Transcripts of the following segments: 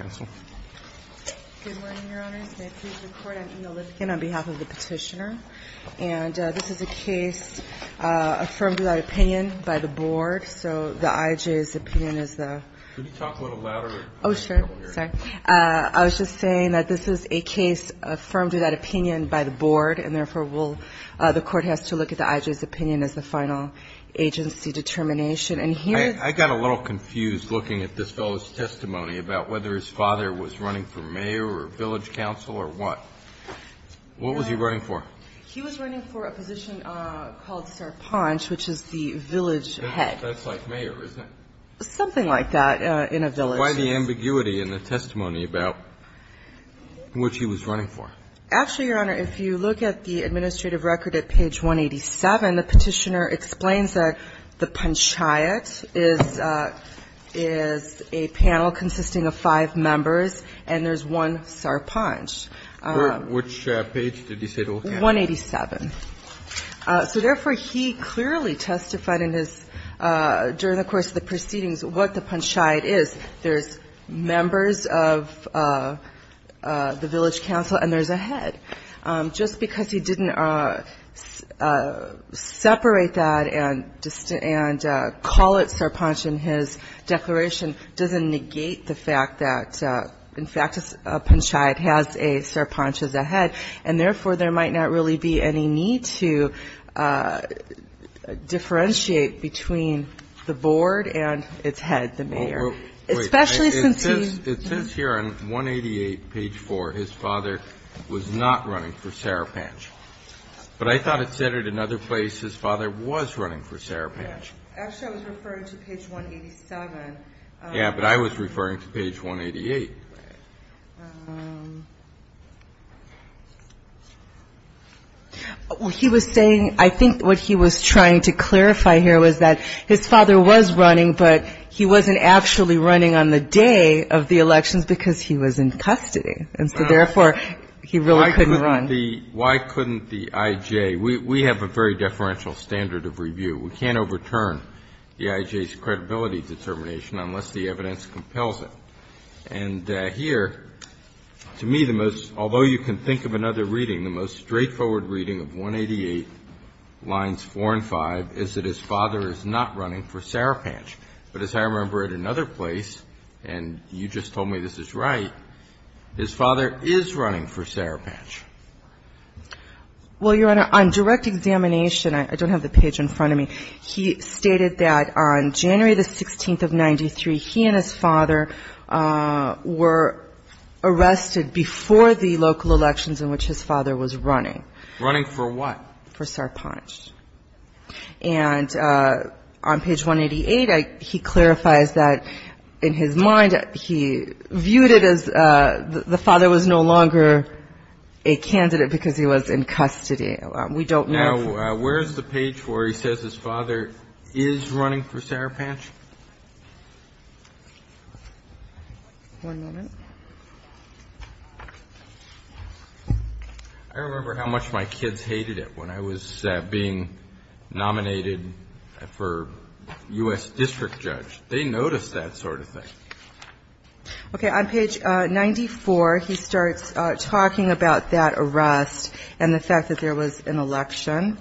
I was just saying that this is a case affirmed to that opinion by the board and therefore will the court has to look at the I.J.'s opinion as the final agency determination and here I got a little confused looking at this fellow's testimony about whether his father was running for mayor or village council or what? What was he running for? He was running for a position called Sarpanch, which is the village head. That's like mayor, isn't it? Something like that in a village. Why the ambiguity in the testimony about which he was running for? Actually, Your Honor, if you look at the administrative record at page 187, the petitioner explains that the panchayat is a panel consisting of five members and there's one Sarpanch. Which page did he say to look at? 187. So therefore, he clearly testified in his, during the course of the proceedings what the panchayat is. There's members of the village council and there's a head. Just because he didn't separate that and call it Sarpanch in his declaration doesn't negate the fact that in fact a panchayat has a Sarpanch as a head and therefore there might not really be any need to differentiate between the board and its head, the mayor, especially since he... It says here on 188, page 4, his father was not running for Sarpanch. But I thought it said at another place his father was running for Sarpanch. Actually, I was referring to page 187. Yeah, but I was referring to page 188. He was saying, I think what he was trying to clarify here was that his father was running, but he wasn't actually running on the day of the elections because he was in custody. And so therefore, he really couldn't run. Why couldn't the I.J. We have a very deferential standard of review. We can't overturn the I.J.'s credibility determination unless the evidence compels it. And here, to me, the most, although you can think of another reading, the most straightforward reading of 188, lines 4 and 5, is that his father is not running for Sarpanch. But as I remember at another place, and you just told me this is right, his father is running for Sarpanch. Well, Your Honor, on direct examination, I don't have the page in front of me. He stated that on January the 16th of 93, he and his father were arrested before the local elections in which his father was running. Running for what? For Sarpanch. And on page 188, he clarifies that in his mind, he viewed it as the father was no longer a candidate because he was in custody. We don't know for sure. So where is the page where he says his father is running for Sarpanch? One moment. I remember how much my kids hated it when I was being nominated for U.S. district judge. They noticed that sort of thing. Okay. And then on page 94, he starts talking about that arrest and the fact that there was an election.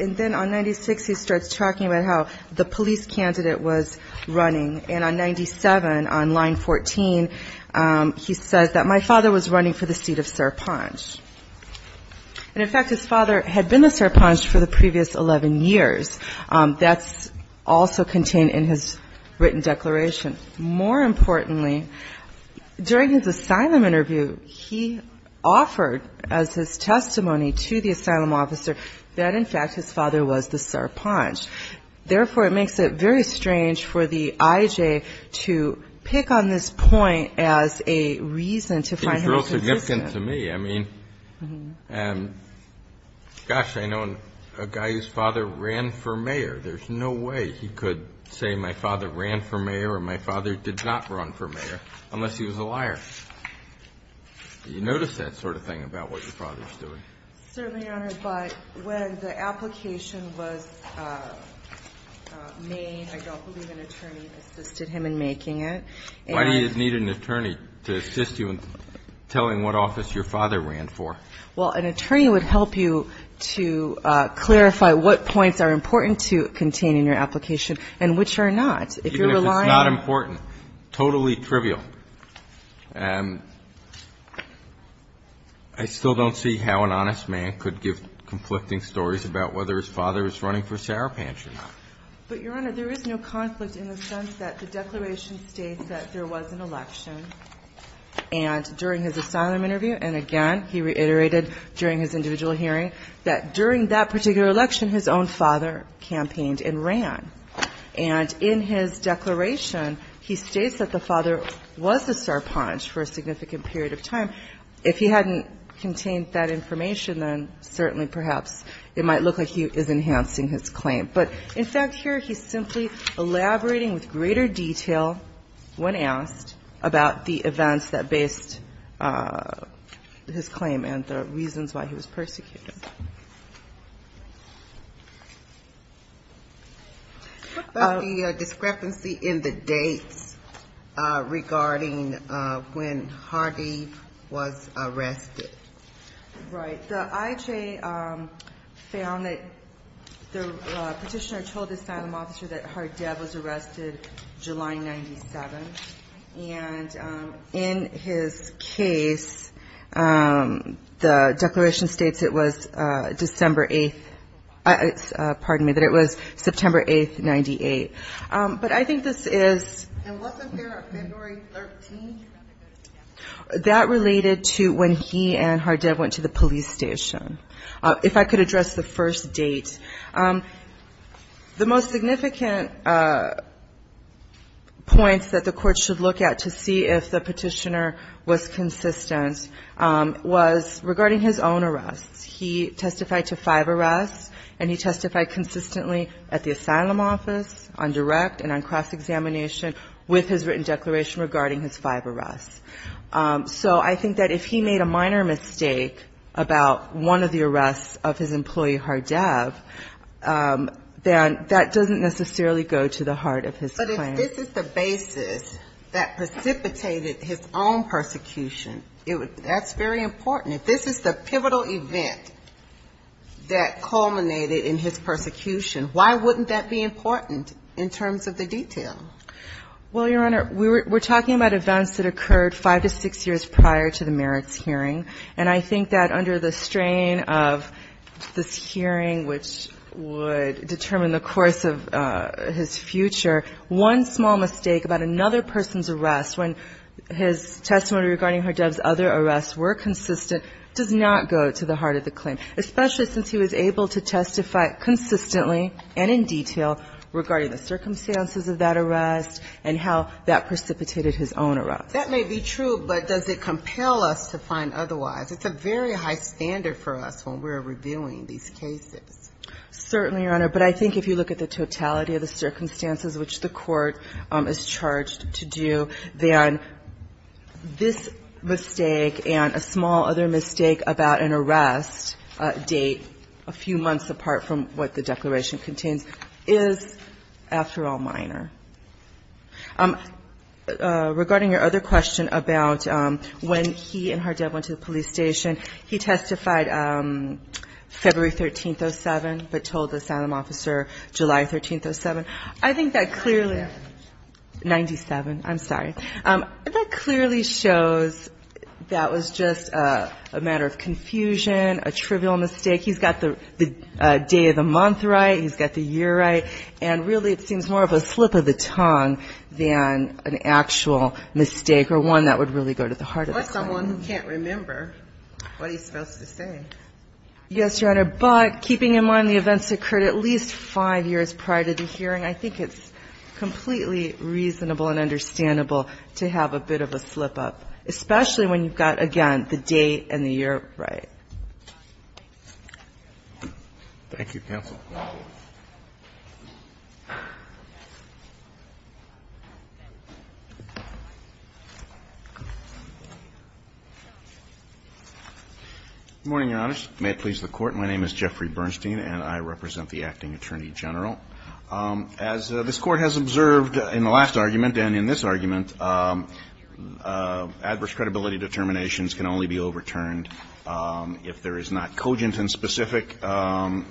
And then on 96, he starts talking about how the police candidate was running. And on 97, on line 14, he says that my father was running for the seat of Sarpanch. And in fact, his father had been a Sarpanch for the previous 11 years. That's also contained in his written declaration. More importantly, during his asylum interview, he offered as his testimony to the asylum officer that, in fact, his father was the Sarpanch. Therefore, it makes it very strange for the IJ to pick on this point as a reason to find him suspicious. It's real significant to me. I mean, gosh, I know a guy whose father ran for mayor. There's no way he could say my father ran for mayor or my father did not run for mayor unless he was a liar. Do you notice that sort of thing about what your father is doing? Certainly, Your Honor. But when the application was made, I don't believe an attorney assisted him in making it. Why do you need an attorney to assist you in telling what office your father ran for? Well, an attorney would help you to clarify what points are important to contain in your application and which are not. Even if it's not important, totally trivial. I still don't see how an honest man could give conflicting stories about whether his father is running for Sarpanch or not. But, Your Honor, there is no conflict in the sense that the declaration states that there was an election, and during his asylum interview, and again, he reiterated during his individual hearing, that during that particular election, his own father campaigned and ran. And in his declaration, he states that the father was a Sarpanch for a significant period of time. If he hadn't contained that information, then certainly, perhaps, it might look like he is enhancing his claim. But, in fact, here he's simply elaborating with greater detail when asked about the events that based his claim and the reasons why he was persecuted. What about the discrepancy in the dates regarding when Hardee was arrested? Right. The IHA found that the petitioner told the asylum officer that Hardee was arrested July 97. And in his case, the declaration states it was July 1, 1997. And in his case, the declaration states it was December 8th, pardon me, that it was September 8th, 98. But I think this is... And wasn't there a February 13th? That related to when he and Hardee went to the police station. If I could address the first date, the most significant points that the court should look at to see if the petitioner was consistent was regarding his own arrests. He testified to five arrests, and he testified consistently at the asylum office on direct and on cross-examination with his written declaration regarding his five arrests. So I think that if he made a minor mistake about one of the arrests of his employee Hardeev, then that doesn't necessarily go to the heart of his claim. But if this is the basis that precipitated his own persecution, that's very important. And if this is the pivotal event that culminated in his persecution, why wouldn't that be important in terms of the detail? Well, Your Honor, we're talking about events that occurred five to six years prior to the Merricks hearing. And I think that under the strain of this hearing, which would determine the course of his future, one small mistake about another person's arrest, when his testimony regarding Hardeev's other arrests were consistent, does not go to the heart of the claim, especially since he was able to testify consistently and in detail regarding the circumstances of that arrest and how that precipitated his own arrest. That may be true, but does it compel us to find otherwise? It's a very high standard for us when we're reviewing these cases. Certainly, Your Honor. But I think if you look at the totality of the circumstances which the court is charged to do, then this mistake and a small other mistake about an arrest date a few months apart from what the declaration contains is, after all, minor. Regarding your other question about when he and Hardeev went to the police station, he testified February 13, 07, but told the asylum officer July 13, 07. I think that clearly 97. I'm sorry. That clearly shows that was just a matter of confusion, a trivial mistake. He's got the day of the month right. He's got the year right. And really it seems more of a slip of the tongue than an actual mistake or one that would really go to the heart of the claim. Or someone who can't remember what he's supposed to say. Yes, Your Honor. But keeping in mind the events occurred at least five years prior to the hearing, I think it's completely reasonable and understandable to have a bit of a slip-up, especially when you've got, again, the date and the year right. Thank you, counsel. Good morning, Your Honors. May it please the Court. My name is Jeffrey Bernstein, and I represent the Acting Attorney General. As this Court has observed in the last argument and in this argument, adverse credibility determinations can only be overturned if there is not cogent and specific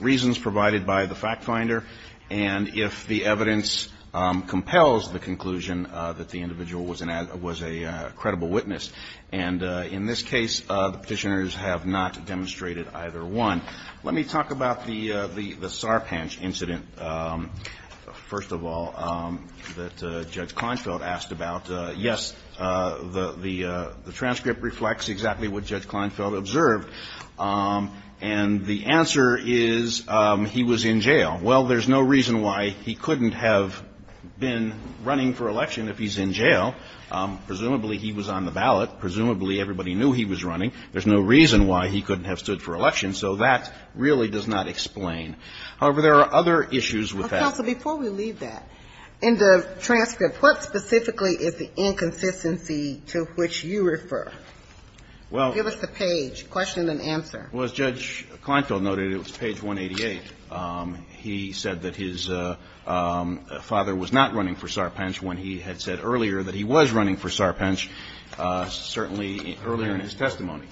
reasons provided by the fact finder and if the evidence compels the conclusion that the individual was a credible witness. And in this case, the Petitioners have not demonstrated either one. Let me talk about the Sarpanch incident, first of all, that Judge Kleinfeld asked about. Yes, the transcript reflects exactly what Judge Kleinfeld observed. And the answer is he was in jail. Well, there's no reason why he couldn't have been running for election if he's in jail. Presumably, he was on the ballot. Presumably, everybody knew he was running. There's no reason why he couldn't have stood for election. So that really does not explain. However, there are other issues with that. But, counsel, before we leave that, in the transcript, what specifically is the inconsistency to which you refer? Give us the page, question and answer. Well, as Judge Kleinfeld noted, it was page 188. He said that his father was not running for Sarpanch when he had said earlier that he was running for Sarpanch, certainly earlier in his testimony.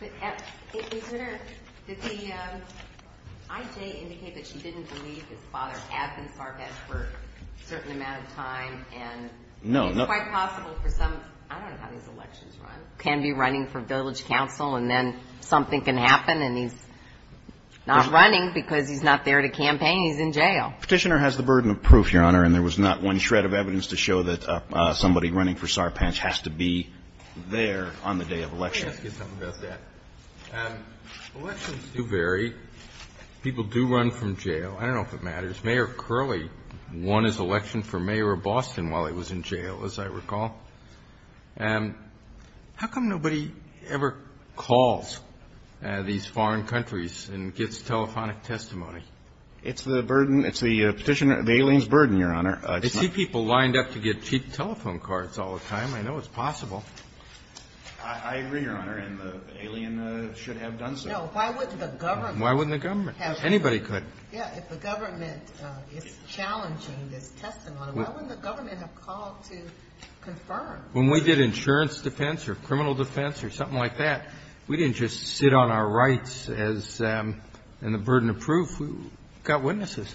Did the I.J. indicate that she didn't believe his father had been Sarpanch for a certain amount of time? No. It's quite possible for some. I don't know how these elections run. He can be running for village council and then something can happen and he's not running because he's not there to campaign. He's in jail. Petitioner has the burden of proof, Your Honor, and there was not one shred of evidence to show that somebody running for Sarpanch has to be there on the day of election. Let me ask you something about that. Elections do vary. People do run from jail. I don't know if it matters. Mayor Curley won his election for mayor of Boston while he was in jail, as I recall. How come nobody ever calls these foreign countries and gets telephonic testimony? It's the burden. It's the petitioner, the alien's burden, Your Honor. I see people lined up to get cheap telephone cards all the time. I know it's possible. I agree, Your Honor, and the alien should have done so. No. Why wouldn't the government? Why wouldn't the government? Anybody could. Yeah, if the government is challenging this testimony, why wouldn't the government have called to confirm? When we did insurance defense or criminal defense or something like that, we didn't just sit on our rights as the burden of proof. We got witnesses.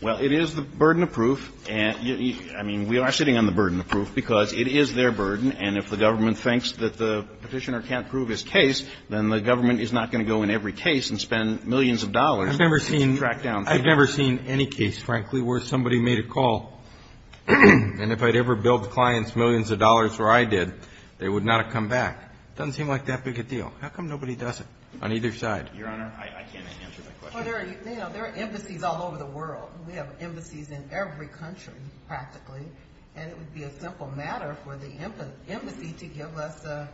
Well, it is the burden of proof. I mean, we are sitting on the burden of proof because it is their burden, and if the government thinks that the petitioner can't prove his case, then the government is not going to go in every case and spend millions of dollars. I've never seen any case, frankly, where somebody made a call, and if I'd ever billed clients millions of dollars where I did, they would not have come back. It doesn't seem like that big a deal. How come nobody does it on either side? Your Honor, I can't answer that question. Well, there are embassies all over the world. We have embassies in every country, practically, and it would be a simple matter for the embassy to give us a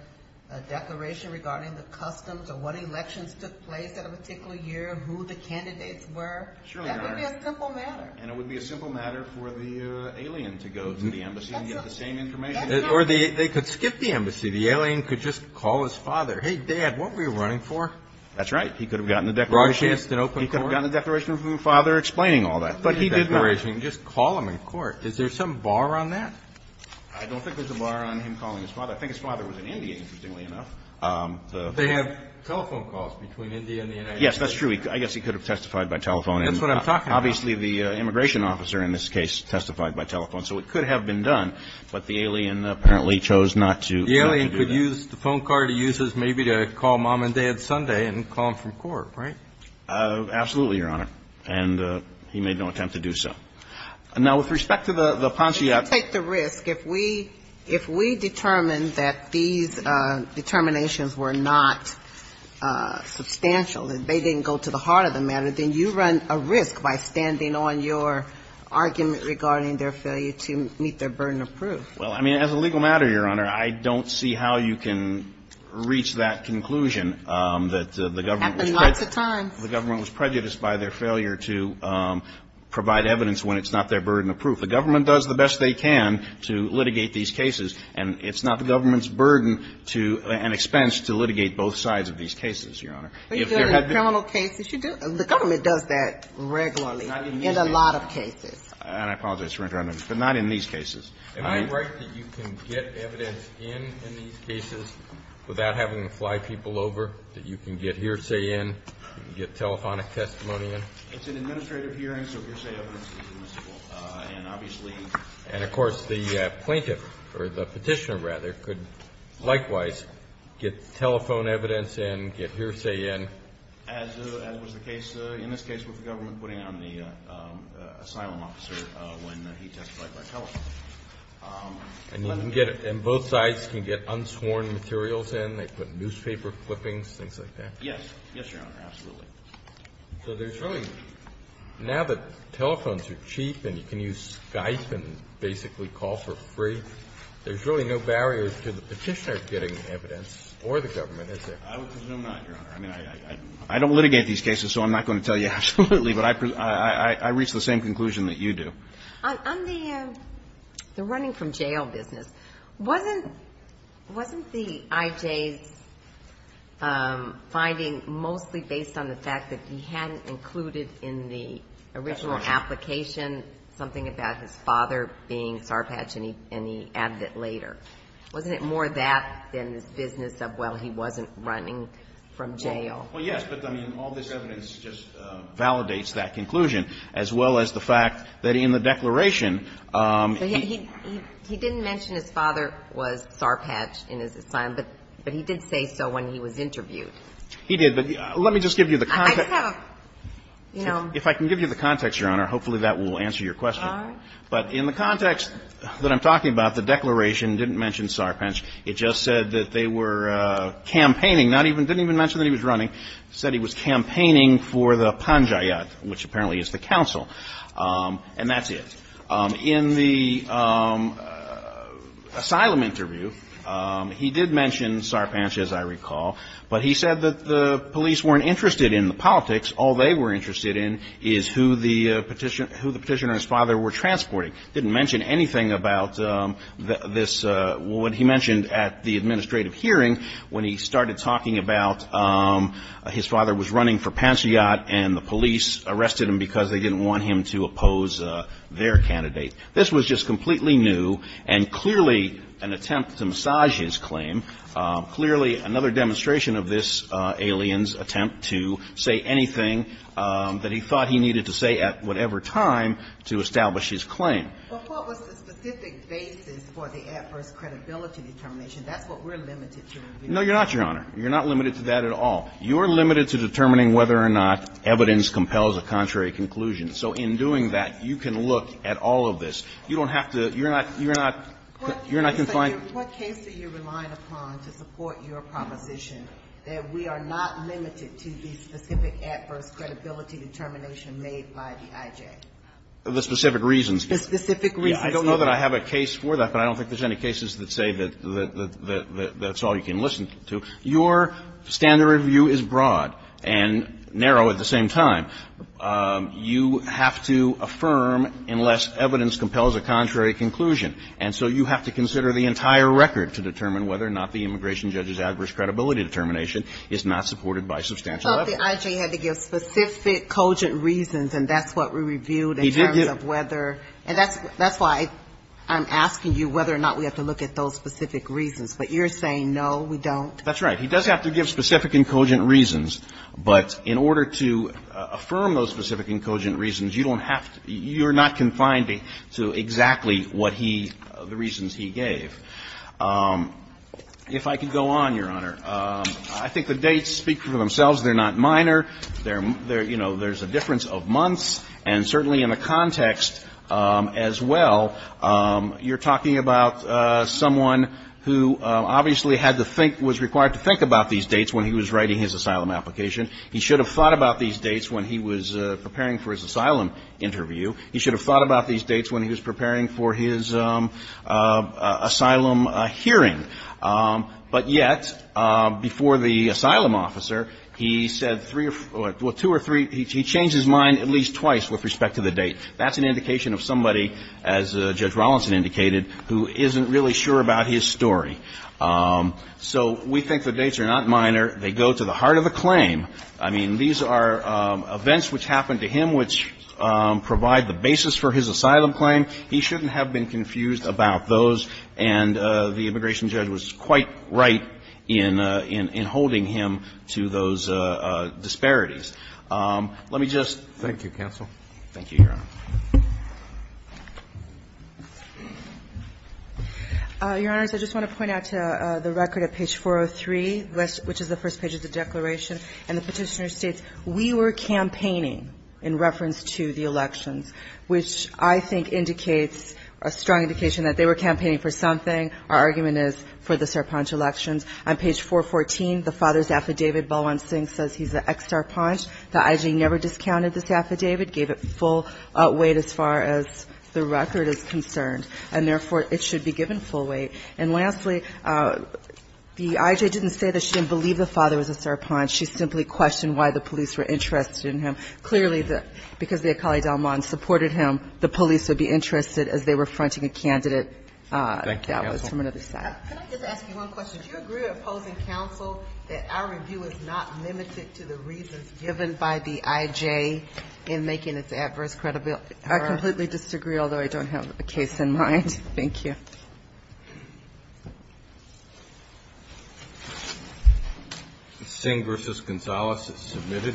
declaration regarding the customs or what elections took place at a particular year, who the candidates were. Surely, Your Honor. That would be a simple matter. And it would be a simple matter for the alien to go to the embassy and get the same information. Or they could skip the embassy. The alien could just call his father. Hey, Dad, what were you running for? That's right. He could have gotten a declaration. He could have gotten a declaration from his father explaining all that. But he did not. He could have gotten a declaration and just call him in court. Is there some bar on that? I don't think there's a bar on him calling his father. I think his father was an NDA, interestingly enough. They have telephone calls between India and the United States. Yes, that's true. I guess he could have testified by telephone. That's what I'm talking about. Obviously, the immigration officer, in this case, testified by telephone. So it could have been done. But the alien apparently chose not to do that. The alien could use the phone card he uses maybe to call Mom and Dad Sunday and call him from court, right? Absolutely, Your Honor. And he made no attempt to do so. Now, with respect to the panciat. You take the risk. If we determine that these determinations were not substantial, that they didn't go to the heart of the matter, then you run a risk by standing on your argument regarding their failure to meet their burden of proof. Well, I mean, as a legal matter, Your Honor, I don't see how you can reach that conclusion that the government was. Happened lots of times. The government was prejudiced by their failure to provide evidence when it's not their burden of proof. The government does the best they can to litigate these cases. And it's not the government's burden to an expense to litigate both sides of these cases, Your Honor. But in criminal cases, you do. The government does that regularly. Not in these cases. In a lot of cases. And I apologize for interrupting. But not in these cases. Am I right that you can get evidence in in these cases without having to fly people over, that you can get hearsay in, get telephonic testimony in? It's an administrative hearing, so hearsay evidence is admissible. And obviously – And, of course, the plaintiff, or the petitioner, rather, could likewise get telephone evidence in, get hearsay in. As was the case in this case with the government putting on the asylum officer when he testified by telephone. And both sides can get unsworn materials in? They put newspaper clippings, things like that? Yes. Yes, Your Honor, absolutely. So there's really – now that telephones are cheap and you can use Skype and basically call for free, there's really no barrier to the petitioner getting evidence or the government, is there? I would presume not, Your Honor. I mean, I don't litigate these cases, so I'm not going to tell you absolutely. But I reach the same conclusion that you do. On the running from jail business, wasn't the I.J.'s finding mostly based on the fact that he hadn't included in the original application something about his father being Sarpatch and he added it later? Wasn't it more that than this business of, well, he wasn't running from jail? Well, yes. But, I mean, all this evidence just validates that conclusion, as well as the fact that in the declaration he – He didn't mention his father was Sarpatch in his asylum, but he did say so when he was interviewed. He did. But let me just give you the – I just have a, you know – If I can give you the context, Your Honor, hopefully that will answer your question. All right. But in the context that I'm talking about, the declaration didn't mention Sarpatch. It just said that they were campaigning, not even – didn't even mention that he was running. It said he was campaigning for the panjayat, which apparently is the council. And that's it. In the asylum interview, he did mention Sarpatch, as I recall. But he said that the police weren't interested in the politics. All they were interested in is who the petitioner and his father were transporting. He didn't mention anything about this – what he mentioned at the administrative hearing, when he started talking about his father was running for panjayat and the police arrested him because they didn't want him to oppose their candidate. This was just completely new and clearly an attempt to massage his claim, clearly another demonstration of this alien's attempt to say anything that he thought he needed to say at whatever time to establish his claim. But what was the specific basis for the adverse credibility determination? That's what we're limited to reviewing. No, Your Honor. You're not limited to that at all. You're limited to determining whether or not evidence compels a contrary conclusion. So in doing that, you can look at all of this. You don't have to – you're not – you're not confined – What case are you relying upon to support your proposition that we are not limited to the specific adverse credibility determination made by the IJ? The specific reasons. The specific reasons. I don't know that I have a case for that, but I don't think there's any cases that say that's all you can listen to. Your standard review is broad and narrow at the same time. You have to affirm unless evidence compels a contrary conclusion. And so you have to consider the entire record to determine whether or not the immigration judge's adverse credibility determination is not supported by substantial evidence. But the IJ had to give specific cogent reasons, and that's what we reviewed in terms of whether – He did give – And that's why I'm asking you whether or not we have to look at those specific reasons. But you're saying no, we don't? That's right. He does have to give specific and cogent reasons. But in order to affirm those specific and cogent reasons, you don't have to – you're not confined to exactly what he – the reasons he gave. If I could go on, Your Honor. I think the dates speak for themselves. They're not minor. They're – you know, there's a difference of months. And certainly in the context as well, you're talking about someone who obviously had to think – was required to think about these dates when he was writing his asylum application. He should have thought about these dates when he was preparing for his asylum interview. He should have thought about these dates when he was preparing for his asylum hearing. But yet, before the asylum officer, he said three – well, two or three – he changed his mind at least twice with respect to the date. That's an indication of somebody, as Judge Rawlinson indicated, who isn't really sure about his story. So we think the dates are not minor. They go to the heart of the claim. I mean, these are events which happened to him which provide the basis for his asylum claim. He shouldn't have been confused about those. And the immigration judge was quite right in holding him to those disparities. Let me just – Thank you, counsel. Thank you, Your Honor. Your Honors, I just want to point out to the record at page 403, which is the first page of the declaration, and the Petitioner states, We were campaigning in reference to the elections, which I think indicates a strong indication that they were campaigning for something. Our argument is for the Sarpanch elections. On page 414, the father's affidavit, Balwant Singh says he's an ex-Sarpanch. The I.G. never discounted this affidavit, gave it full weight as far as the record is concerned, and therefore, it should be given full weight. And lastly, the I.J. didn't say that she didn't believe the father was a Sarpanch. She simply questioned why the police were interested in him. Clearly, because the Akali Dalman supported him, the police would be interested as they were fronting a candidate that was from another side. Thank you, counsel. Can I just ask you one question? Do you agree with opposing counsel that our review is not limited to the reasons given by the I.J. in making its adverse credibility? I completely disagree, although I don't have a case in mind. Thank you. Thank you. Singh v. Gonzalez is submitted.